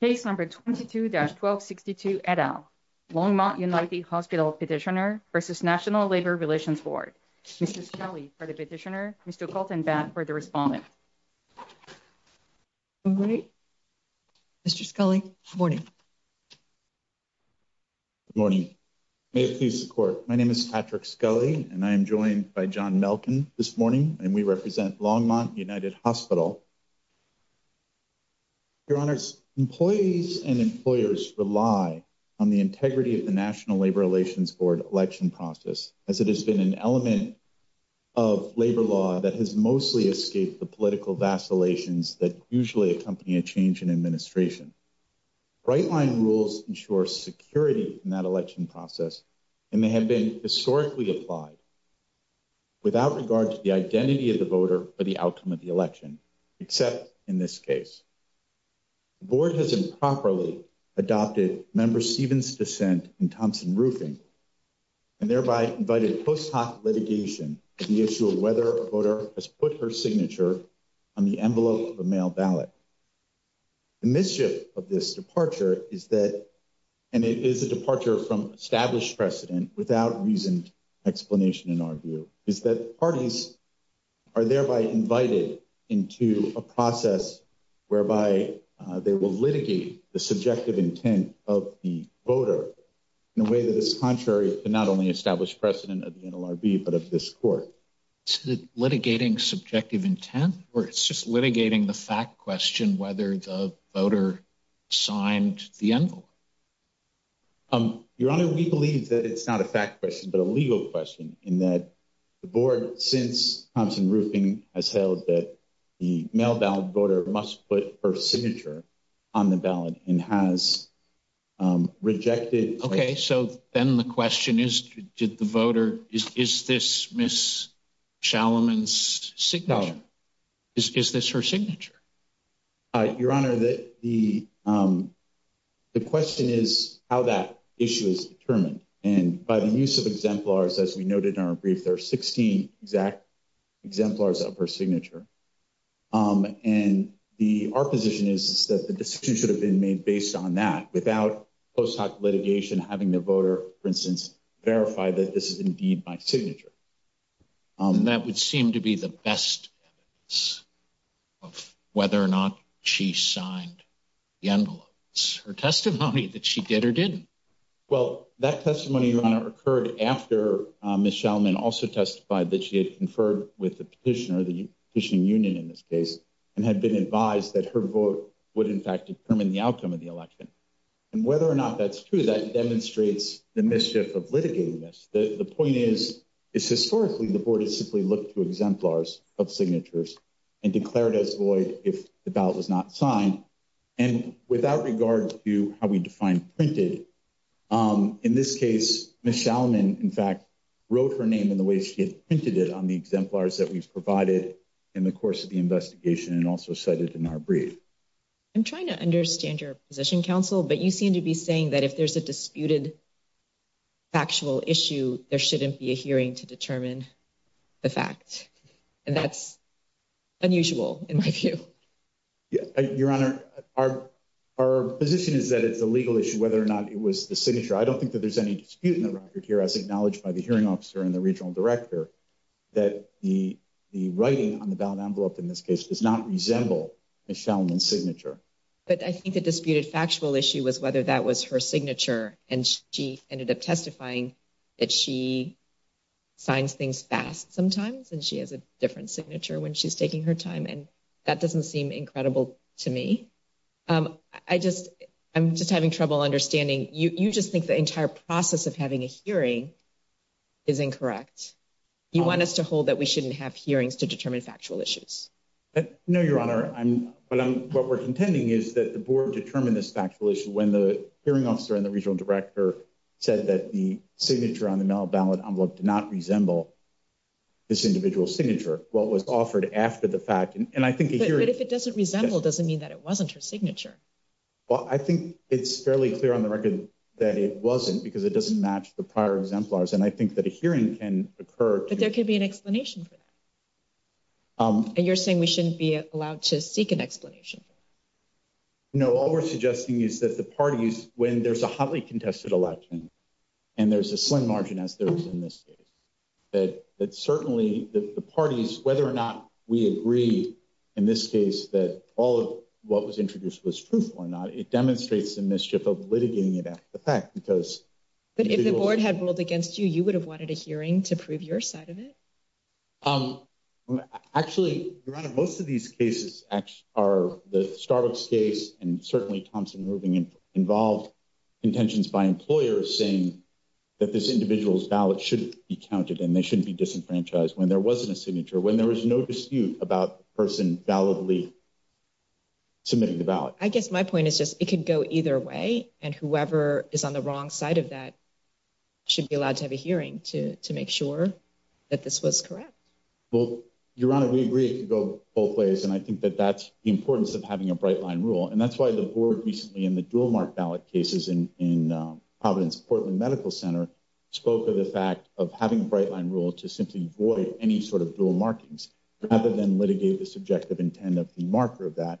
Case No. 22-1262, et al., Longmont United Hospital Petitioner v. National Labor Relations Board. Mr. Scully for the petitioner, Mr. Colton-Batt for the respondent. Mr. Scully, good morning. Good morning. May it please the Court, my name is Patrick Scully and I am joined by John Melkin this morning and we represent Longmont United Hospital. Your Honors, employees and employers rely on the integrity of the National Labor Relations Board election process as it has been an element of labor law that has mostly escaped the political vacillations that usually accompany a change in administration. Right-line rules ensure security in that election process and may have been historically applied without regard to the identity of the voter or the outcome of the election, except in this case. The Board has improperly adopted Member Stephens' dissent in Thompson-Roofing and thereby invited post-hoc litigation on the issue of whether a voter has put her signature on the envelope of a mail ballot. The mischief of this departure is that, and it is a departure from established precedent without reasoned explanation in our view, is that parties are thereby invited into a process whereby they will litigate the subjective intent of the voter in a way that is contrary to not only established precedent of the NLRB but of this Court. Is it litigating subjective intent or it's just litigating the fact question whether the voter signed the envelope? Your Honor, we believe that it's not a fact question but a legal question in that the Board, since Thompson-Roofing, has held that the mail ballot voter must put her signature on the ballot and has rejected. Okay. So then the question is, did the voter – is this Ms. Schalleman's signature? No. Is this her signature? Your Honor, the question is how that issue is determined. And by the use of exemplars, as we noted in our brief, there are 16 exact exemplars of her signature. And our position is that the decision should have been made based on that without post-hoc litigation having the voter, for instance, verify that this is indeed my signature. And that would seem to be the best evidence of whether or not she signed the envelope. It's her testimony that she did or didn't. Well, that testimony, Your Honor, occurred after Ms. Schalleman also testified that she had conferred with the petitioner, the petitioning union in this case, and had been advised that her vote would in fact determine the outcome of the election. And whether or not that's true, that demonstrates the mischief of litigating this. The point is, historically, the voters simply looked to exemplars of signatures and declared as void if the ballot was not signed. And without regard to how we define printed, in this case, Ms. Schalleman, in fact, wrote her name in the way she had printed it on the exemplars that we've provided in the course of the investigation and also cited in our brief. I'm trying to understand your position, Counsel, but you seem to be saying that if there's a disputed factual issue, there shouldn't be a hearing to determine the fact. And that's unusual in my view. Your Honor, our position is that it's a legal issue whether or not it was the signature. I don't think that there's any dispute in the record here, as acknowledged by the hearing officer and the regional director, that the writing on the ballot envelope in this case does not resemble Ms. Schalleman's signature. But I think the disputed factual issue was whether that was her signature, and she ended up testifying that she signs things fast sometimes, and she has a different signature when she's taking her time. And that doesn't seem incredible to me. I'm just having trouble understanding. You just think the entire process of having a hearing is incorrect. You want us to hold that we shouldn't have hearings to determine factual issues. No, Your Honor, what we're contending is that the board determined this factual issue when the hearing officer and the regional director said that the signature on the ballot envelope did not resemble this individual signature. But if it doesn't resemble, it doesn't mean that it wasn't her signature. Well, I think it's fairly clear on the record that it wasn't, because it doesn't match the prior exemplars. And I think that a hearing can occur. But there could be an explanation for that. And you're saying we shouldn't be allowed to seek an explanation. No, all we're suggesting is that the parties, when there's a highly contested election, and there's a slim margin, as there is in this case, that certainly the parties, whether or not we agree in this case that all of what was introduced was truth or not, it demonstrates the mischief of litigating it after the fact. But if the board had ruled against you, you would have wanted a hearing to prove your side of it? Actually, most of these cases are the Starbucks case, and certainly Thompson-Rubin involved contentions by employers saying that this individual's ballot should be counted and they shouldn't be disenfranchised when there wasn't a signature, when there was no dispute about the person validly submitting the ballot. Well, I guess my point is just it could go either way, and whoever is on the wrong side of that should be allowed to have a hearing to make sure that this was correct. Well, Your Honor, we agree it could go both ways, and I think that that's the importance of having a bright line rule. And that's why the board recently in the dual-mark ballot cases in Providence Portland Medical Center spoke of the fact of having a bright line rule to simply void any sort of dual markings, rather than litigate the subjective intent of the marker of that,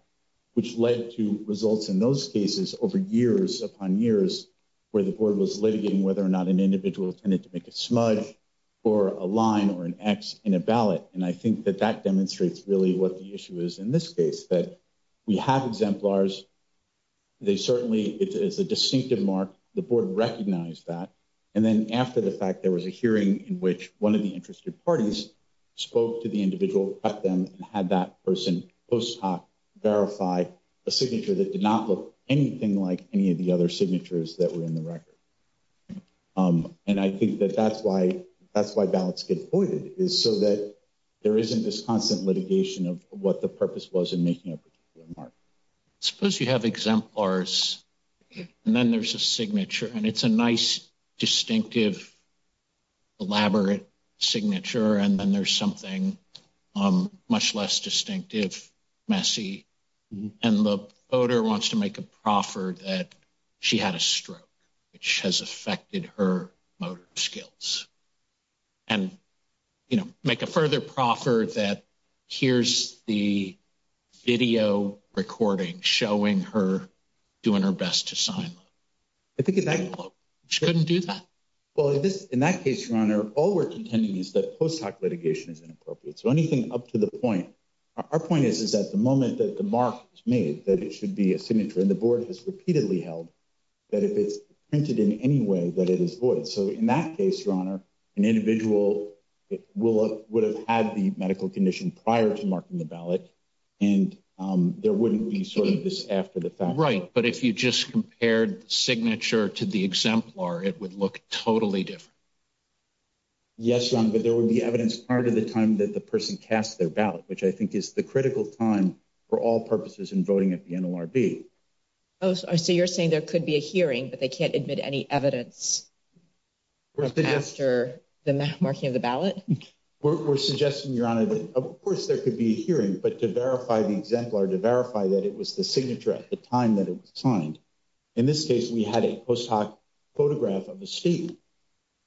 which led to results in those cases over years upon years where the board was litigating whether or not an individual tended to make a smudge or a line or an X in a ballot. And I think that that demonstrates really what the issue is in this case, that we have exemplars. They certainly, it's a distinctive mark. The board recognized that. And then after the fact, there was a hearing in which one of the interested parties spoke to the individual, cut them, and had that person post hoc verify a signature that did not look anything like any of the other signatures that were in the record. And I think that that's why ballots get voided, is so that there isn't this constant litigation of what the purpose was in making a particular mark. Suppose you have exemplars, and then there's a signature, and it's a nice, distinctive, elaborate signature, and then there's something much less distinctive, messy, and the voter wants to make a proffer that she had a stroke, which has affected her motor skills. And, you know, make a further proffer that here's the video recording showing her doing her best to sign. I think she couldn't do that. Well, in that case, your honor, all we're contending is that post hoc litigation is inappropriate. So anything up to the point, our point is, is that the moment that the mark is made, that it should be a signature and the board has repeatedly held that if it's printed in any way that it is void. So in that case, your honor, an individual will would have had the medical condition prior to marking the ballot. And there wouldn't be sort of this after the fact. Right. But if you just compared signature to the exemplar, it would look totally different. Yes, but there would be evidence part of the time that the person cast their ballot, which I think is the critical time for all purposes in voting at the NLRB. So you're saying there could be a hearing, but they can't admit any evidence after the marking of the ballot. We're suggesting, your honor, that, of course, there could be a hearing. But to verify the exemplar, to verify that it was the signature at the time that it was signed. In this case, we had a post hoc photograph of the state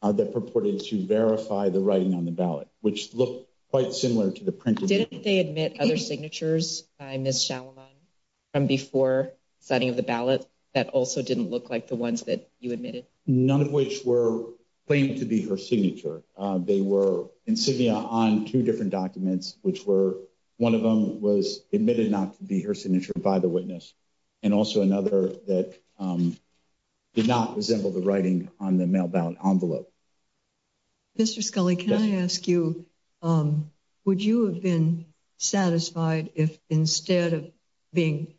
that purported to verify the writing on the ballot, which looked quite similar to the printed. Didn't they admit other signatures by Ms. Salomon from before signing of the ballot that also didn't look like the ones that you admitted? None of which were claimed to be her signature. They were insignia on two different documents, which were one of them was admitted not to be her signature by the witness. And also another that did not resemble the writing on the mail ballot envelope. Mr. Scully, can I ask you, would you have been satisfied if instead of being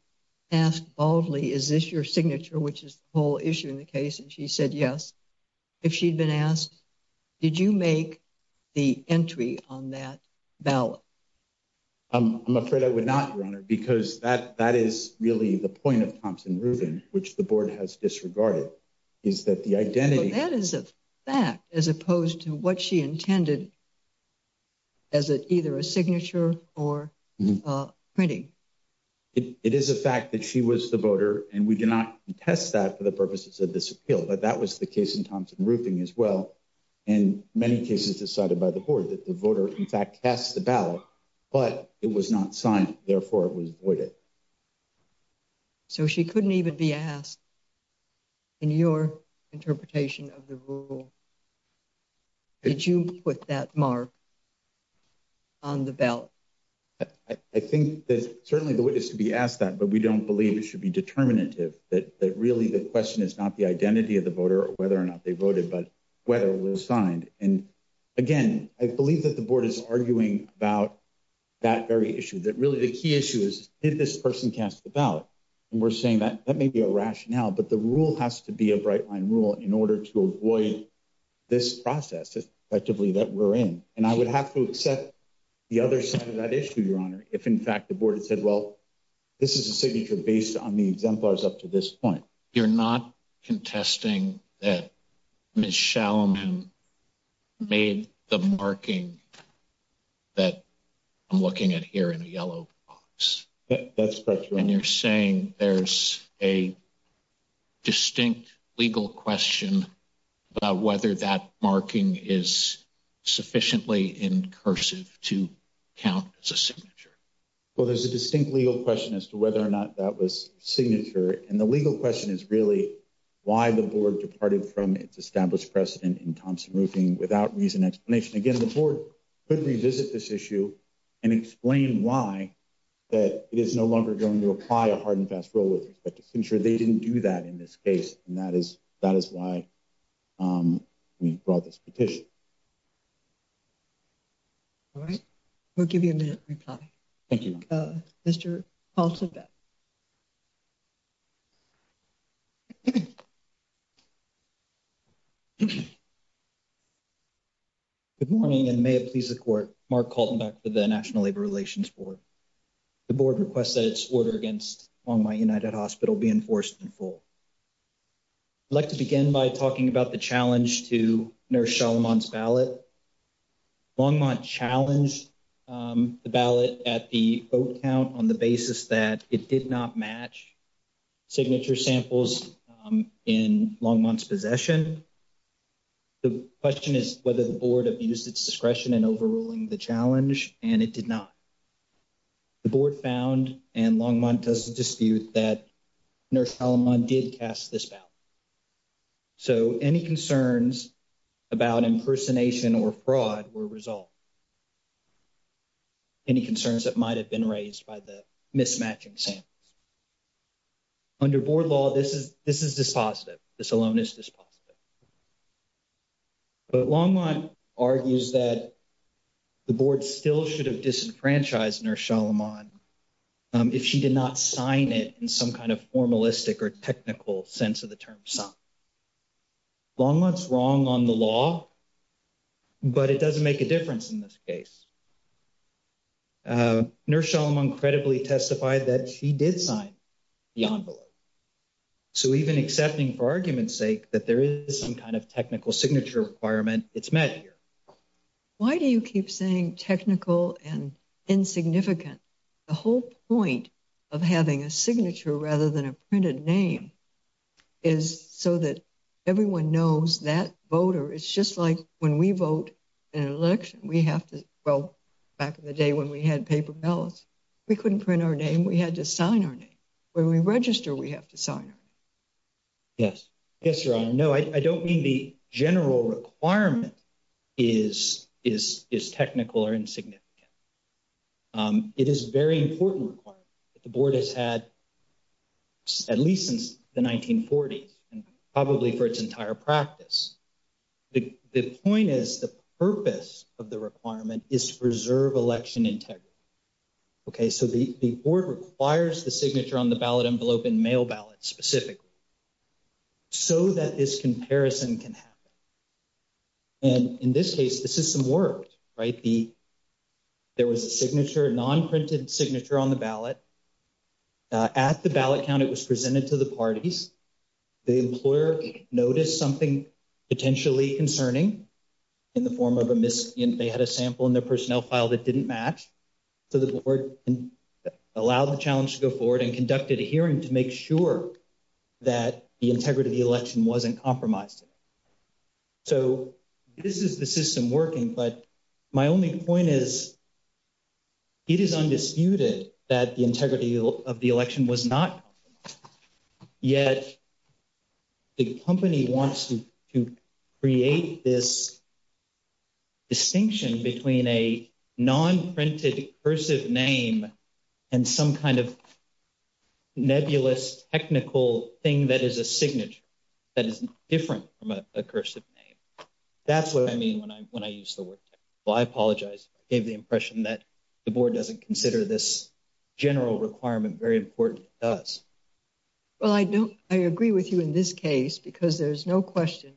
asked boldly, is this your signature, which is the whole issue in the case? And she said yes. If she'd been asked, did you make the entry on that ballot? I'm afraid I would not, your honor, because that that is really the point of Thompson Rubin, which the board has disregarded. Is that the identity that is a fact as opposed to what she intended? As either a signature or printing, it is a fact that she was the voter and we did not test that for the purposes of this appeal. But that was the case in Thompson Rubin as well. And many cases decided by the board that the voter, in fact, passed the ballot, but it was not signed. Therefore, it was avoided. So she couldn't even be asked. In your interpretation of the rule. Did you put that mark on the ballot? I think that certainly the witness to be asked that, but we don't believe it should be determinative that really the question is not the identity of the voter or whether or not they voted, but whether it was signed. And again, I believe that the board is arguing about that very issue that really the key issue is, did this person cast the ballot? And we're saying that that may be a rationale, but the rule has to be a bright line rule in order to avoid this process effectively that we're in. And I would have to accept the other side of that issue, your honor. If, in fact, the board had said, well, this is a signature based on the exemplars up to this point. You're not contesting that Michelle made the marking that I'm looking at here in a yellow box. That's correct. And you're saying there's a distinct legal question about whether that marking is sufficiently in cursive to count as a signature. Well, there's a distinct legal question as to whether or not that was signature. And the legal question is really why the board departed from its established precedent in Thompson roofing without reason explanation. Again, the board could revisit this issue and explain why that it is no longer going to apply a hard and fast roll with respect to ensure they didn't do that in this case. And that is that is why we brought this petition. All right. We'll give you a minute reply. Thank you. Mr. Good morning and may it please the court. Mark Colton back to the National Labor Relations Board. The board requests that its order against on my United Hospital be enforced in full. I'd like to begin by talking about the challenge to nurse Solomon's ballot. Longmont challenged the ballot at the vote count on the basis that it did not match signature samples in long months possession. The question is whether the board abused its discretion and overruling the challenge and it did not. The board found and Longmont does dispute that nurse Solomon did cast this ballot. So, any concerns about impersonation or fraud were resolved. Any concerns that might have been raised by the mismatching. Under board law, this is this is dispositive. This alone is dispositive. But Longmont argues that the board still should have disenfranchised nurse Solomon. If she did not sign it in some kind of formalistic or technical sense of the term. Long months wrong on the law, but it doesn't make a difference in this case. Nurse Solomon credibly testified that she did sign the envelope. So, even accepting for argument's sake that there is some kind of technical signature requirement, it's met here. Why do you keep saying technical and insignificant? The whole point of having a signature rather than a printed name is so that everyone knows that voter. It's just like when we vote an election, we have to go back in the day when we had paper ballots. We couldn't print our name. We had to sign our name. When we register, we have to sign. Yes. Yes. No, I don't mean the general requirement is is is technical or insignificant. It is very important that the board has had at least since the 1940s and probably for its entire practice. The point is the purpose of the requirement is to preserve election integrity. OK, so the board requires the signature on the ballot envelope and mail ballot specifically. So that this comparison can happen. And in this case, the system worked, right? The. There was a signature non printed signature on the ballot. At the ballot count, it was presented to the parties. The employer noticed something potentially concerning. In the form of a miss and they had a sample in their personnel file that didn't match. So, the board allowed the challenge to go forward and conducted a hearing to make sure. That the integrity of the election wasn't compromised. So, this is the system working, but my only point is. It is undisputed that the integrity of the election was not. Yet the company wants to create this. Distinction between a non printed cursive name. And some kind of nebulous technical thing that is a signature. That is different from a cursive name. That's what I mean when I, when I use the word. Well, I apologize gave the impression that the board doesn't consider this. General requirement very important does. Well, I don't I agree with you in this case, because there's no question.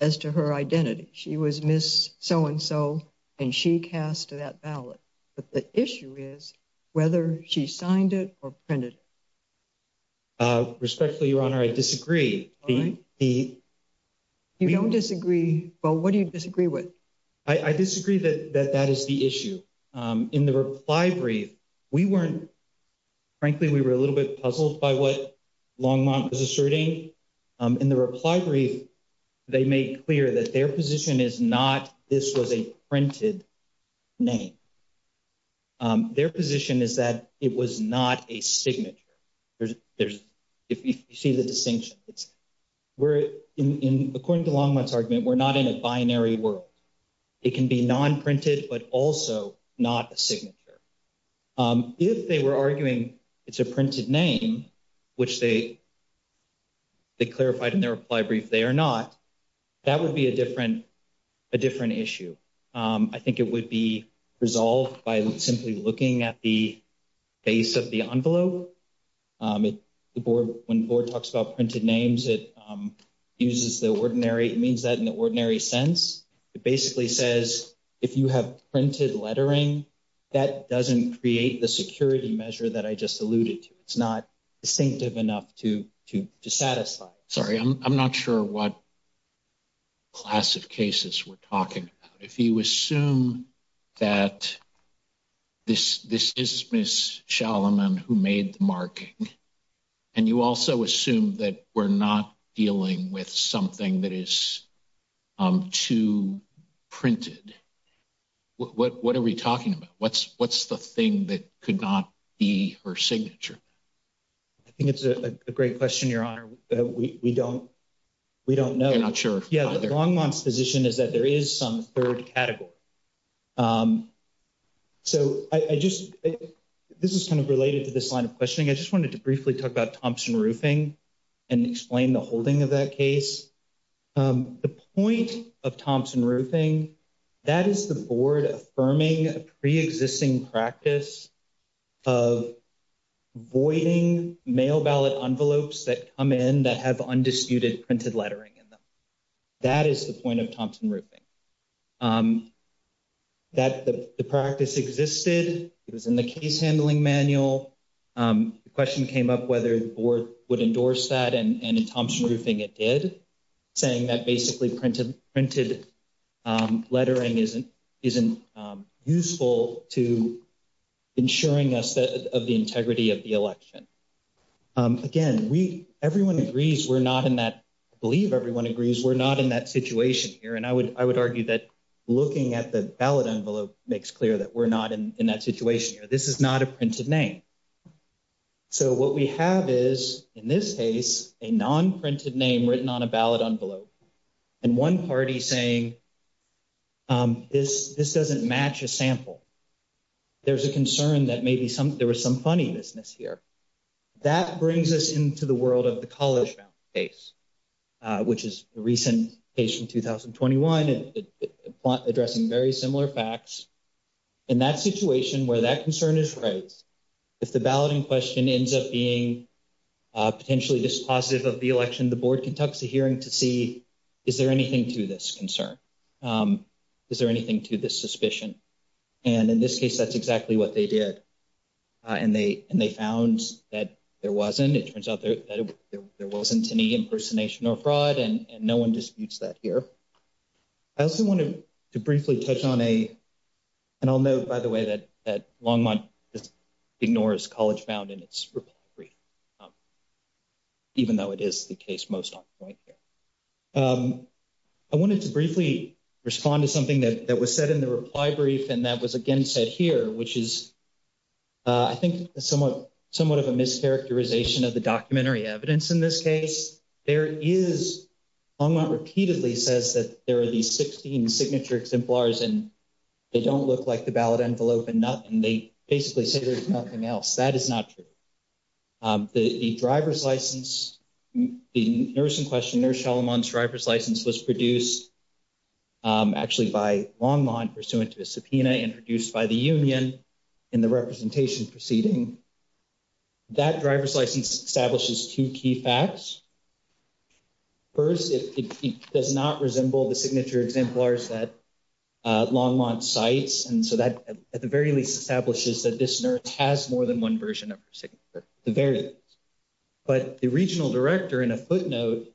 As to her identity, she was miss so and so. And she cast that ballot, but the issue is whether she signed it or printed. Respectfully, your honor, I disagree. You don't disagree. Well, what do you disagree with? I disagree that that is the issue in the reply brief. We weren't frankly, we were a little bit puzzled by what long is asserting in the reply brief. They make clear that their position is not this was a printed name. Their position is that it was not a signature. There's, there's, if you see the distinction, it's where in, according to Longman's argument, we're not in a binary world. It can be non printed, but also not a signature. If they were arguing, it's a printed name, which they, they clarified in their reply brief. They are not. That would be a different, a different issue. I think it would be resolved by simply looking at the base of the envelope. The board, when the board talks about printed names, it uses the ordinary. It means that in the ordinary sense, it basically says, if you have printed lettering, that doesn't create the security measure that I just alluded to. It's not distinctive enough to to to satisfy. Sorry, I'm not sure what class of cases we're talking about. If you assume that this, this is Miss Solomon who made the marking. And you also assume that we're not dealing with something that is too printed. What are we talking about? What's what's the thing that could not be her signature? I think it's a great question. Your honor. We don't. We don't know. I'm not sure. Yeah. Longman's position is that there is some third category. So, I just, this is kind of related to this line of questioning. I just wanted to briefly talk about Thompson roofing. And explain the holding of that case, the point of Thompson roofing. That is the board affirming a preexisting practice of voiding mail ballot envelopes that come in that have undisputed printed lettering in them. That is the point of Thompson roofing. That the practice existed, it was in the case handling manual. The question came up, whether the board would endorse that and Thompson roofing. It did. Saying that basically printed printed lettering isn't isn't useful to. Ensuring us that of the integrity of the election. Again, we, everyone agrees we're not in that. I believe everyone agrees. We're not in that situation here. And I would, I would argue that looking at the ballot envelope makes clear that we're not in that situation. This is not a printed name. So, what we have is in this case, a non printed name written on a ballot envelope. And one party saying, this, this doesn't match a sample. There's a concern that maybe some, there was some funny business here. That brings us into the world of the college case. Which is the recent patient 2021 and addressing very similar facts. In that situation where that concern is right. If the balloting question ends up being potentially dispositive of the election, the board can talk to hearing to see. Is there anything to this concern? Is there anything to this suspicion? And in this case, that's exactly what they did. And they, and they found that there wasn't, it turns out that there wasn't any impersonation or fraud and no one disputes that here. I also wanted to briefly touch on a. And I'll know, by the way, that that long month is ignores college found in its. Even though it is the case most on point here. I wanted to briefly respond to something that was said in the reply brief and that was again said here, which is. I think somewhat, somewhat of a mischaracterization of the documentary evidence in this case. There is a lot repeatedly says that there are these 16 signature exemplars and. They don't look like the ballot envelope and not, and they basically say there's nothing else that is not true. The driver's license, the nurse in question there, Solomon's driver's license was produced. Actually, by long line pursuant to a subpoena introduced by the union in the representation proceeding. That driver's license establishes two key facts. First, it does not resemble the signature exemplars that long months sites. And so that at the very least establishes that this nurse has more than one version of the various. But the regional director in a footnote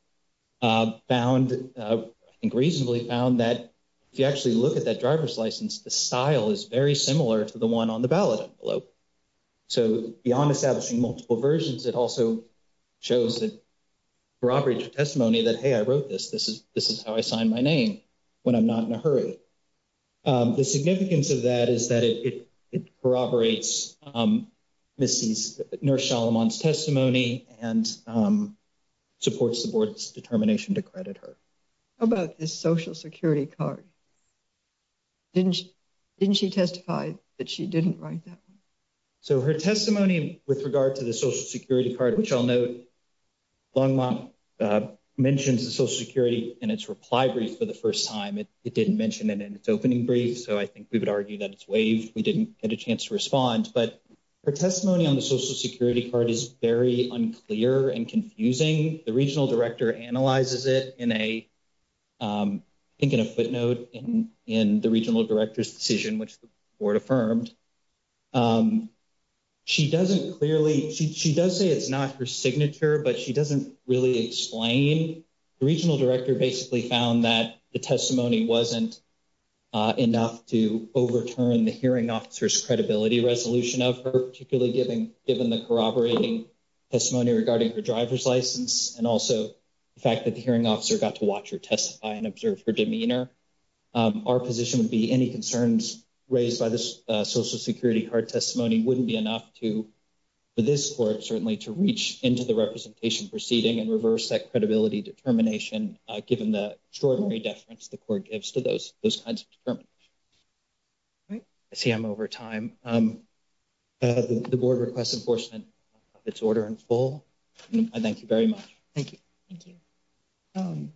found and reasonably found that if you actually look at that driver's license, the style is very similar to the one on the ballot below. So beyond establishing multiple versions, it also shows that. Robert's testimony that, hey, I wrote this. This is this is how I signed my name when I'm not in a hurry. The significance of that is that it corroborates Mrs. Solomon's testimony and supports the board's determination to credit her about the Social Security card. Didn't didn't she testify that she didn't write that? So her testimony with regard to the Social Security card, which I'll note long mentions the Social Security and its reply brief for the first time. It didn't mention it in its opening brief. So I think we would argue that it's waived. We didn't get a chance to respond, but her testimony on the Social Security card is very unclear and confusing. The regional director analyzes it in a, I think, in a footnote in the regional director's decision, which the board affirmed. She doesn't clearly she does say it's not her signature, but she doesn't really explain. I think the regional director basically found that the testimony wasn't enough to overturn the hearing officer's credibility resolution of her, particularly given given the corroborating testimony regarding her driver's license and also the fact that the hearing officer got to watch her testify and observe her demeanor. Our position would be any concerns raised by this Social Security card testimony wouldn't be enough to this court, certainly to reach into the representation proceeding and reverse that credibility determination, given the extraordinary deference the court gives to those those kinds of determinants. I see I'm over time. The board requests enforcement of its order in full. I thank you very much. Thank you. Thank you.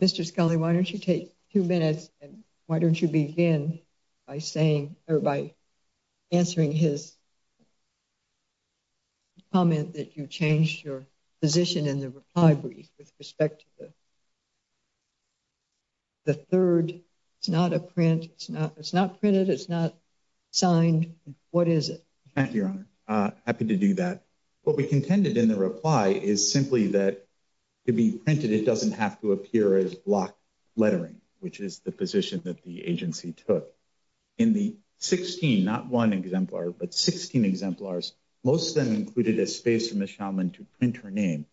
Mr. Scully, why don't you take two minutes? And why don't you begin by saying or by answering his comment that you changed your position in the reply brief with respect to the third? It's not a print. It's not it's not printed. It's not signed. What is it? Your Honor, happy to do that. What we contended in the reply is simply that to be printed. It doesn't have to appear as block lettering, which is the position that the agency took in the 16, not one exemplar, but 16 exemplars. Most of them included a space from the Shaman to print her name.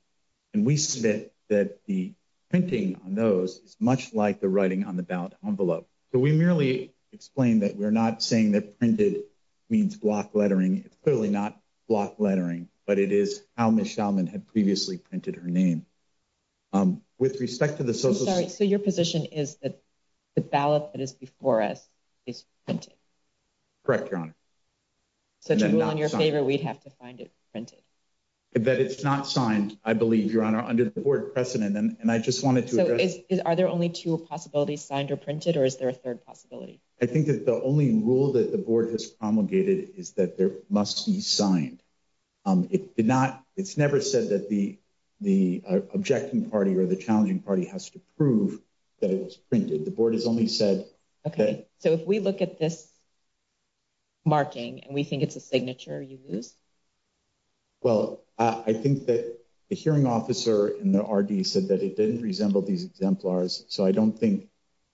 And we submit that the printing on those is much like the writing on the ballot envelope. So we merely explain that we're not saying that printed means block lettering. It's clearly not block lettering, but it is how the Shaman had previously printed her name with respect to the. So sorry. So your position is that the ballot that is before us is printed. Correct, Your Honor. So in your favor, we'd have to find it printed that it's not signed. I believe, Your Honor, under the board precedent. And I just wanted to. So are there only two possibilities signed or printed or is there a third possibility? I think that the only rule that the board has promulgated is that there must be signed. It did not. It's never said that the the objecting party or the challenging party has to prove that it was printed. The board has only said, OK, so if we look at this. Marking and we think it's a signature you lose. Well, I think that the hearing officer in the R.D. said that it didn't resemble these exemplars. So I don't think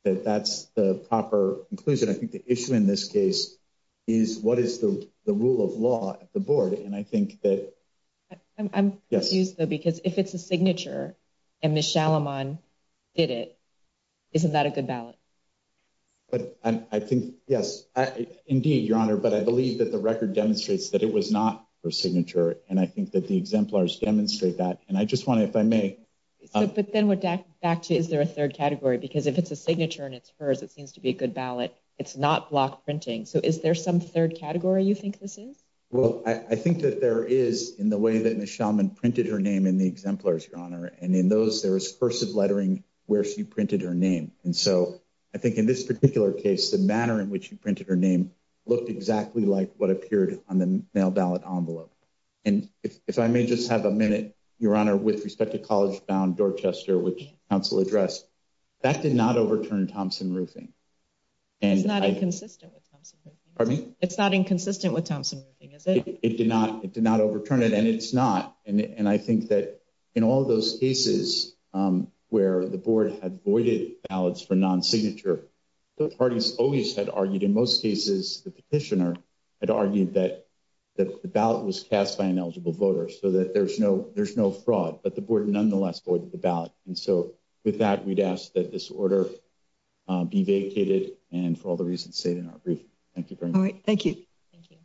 that that's the proper inclusion. I think the issue in this case is what is the rule of law at the board? And I think that I'm confused, though, because if it's a signature and Michelle Aman did it, isn't that a good ballot? But I think, yes, indeed, Your Honor, but I believe that the record demonstrates that it was not her signature. And I think that the exemplars demonstrate that. And I just want to, if I may. But then we're back to is there a third category? Because if it's a signature and it's hers, it seems to be a good ballot. It's not block printing. So is there some third category you think this is? Well, I think that there is in the way that Michelle Aman printed her name in the exemplars, Your Honor. And in those there is cursive lettering where she printed her name. And so I think in this particular case, the manner in which you printed her name looked exactly like what appeared on the mail ballot envelope. And if I may just have a minute, Your Honor, with respect to college bound Dorchester, which counsel addressed that did not overturn Thompson roofing. And it's not inconsistent with Thompson. I mean, it's not inconsistent with Thompson. It did not. It did not overturn it. And it's not. And I think that in all of those cases where the board had voided ballots for non-signature, the parties always had argued in most cases the petitioner had argued that the ballot was cast by an eligible voter so that there's no there's no fraud. But the board nonetheless voted the ballot. And so with that, we'd ask that this order be vacated. And for all the reasons stated in our brief. Thank you. All right. Thank you. Thank you.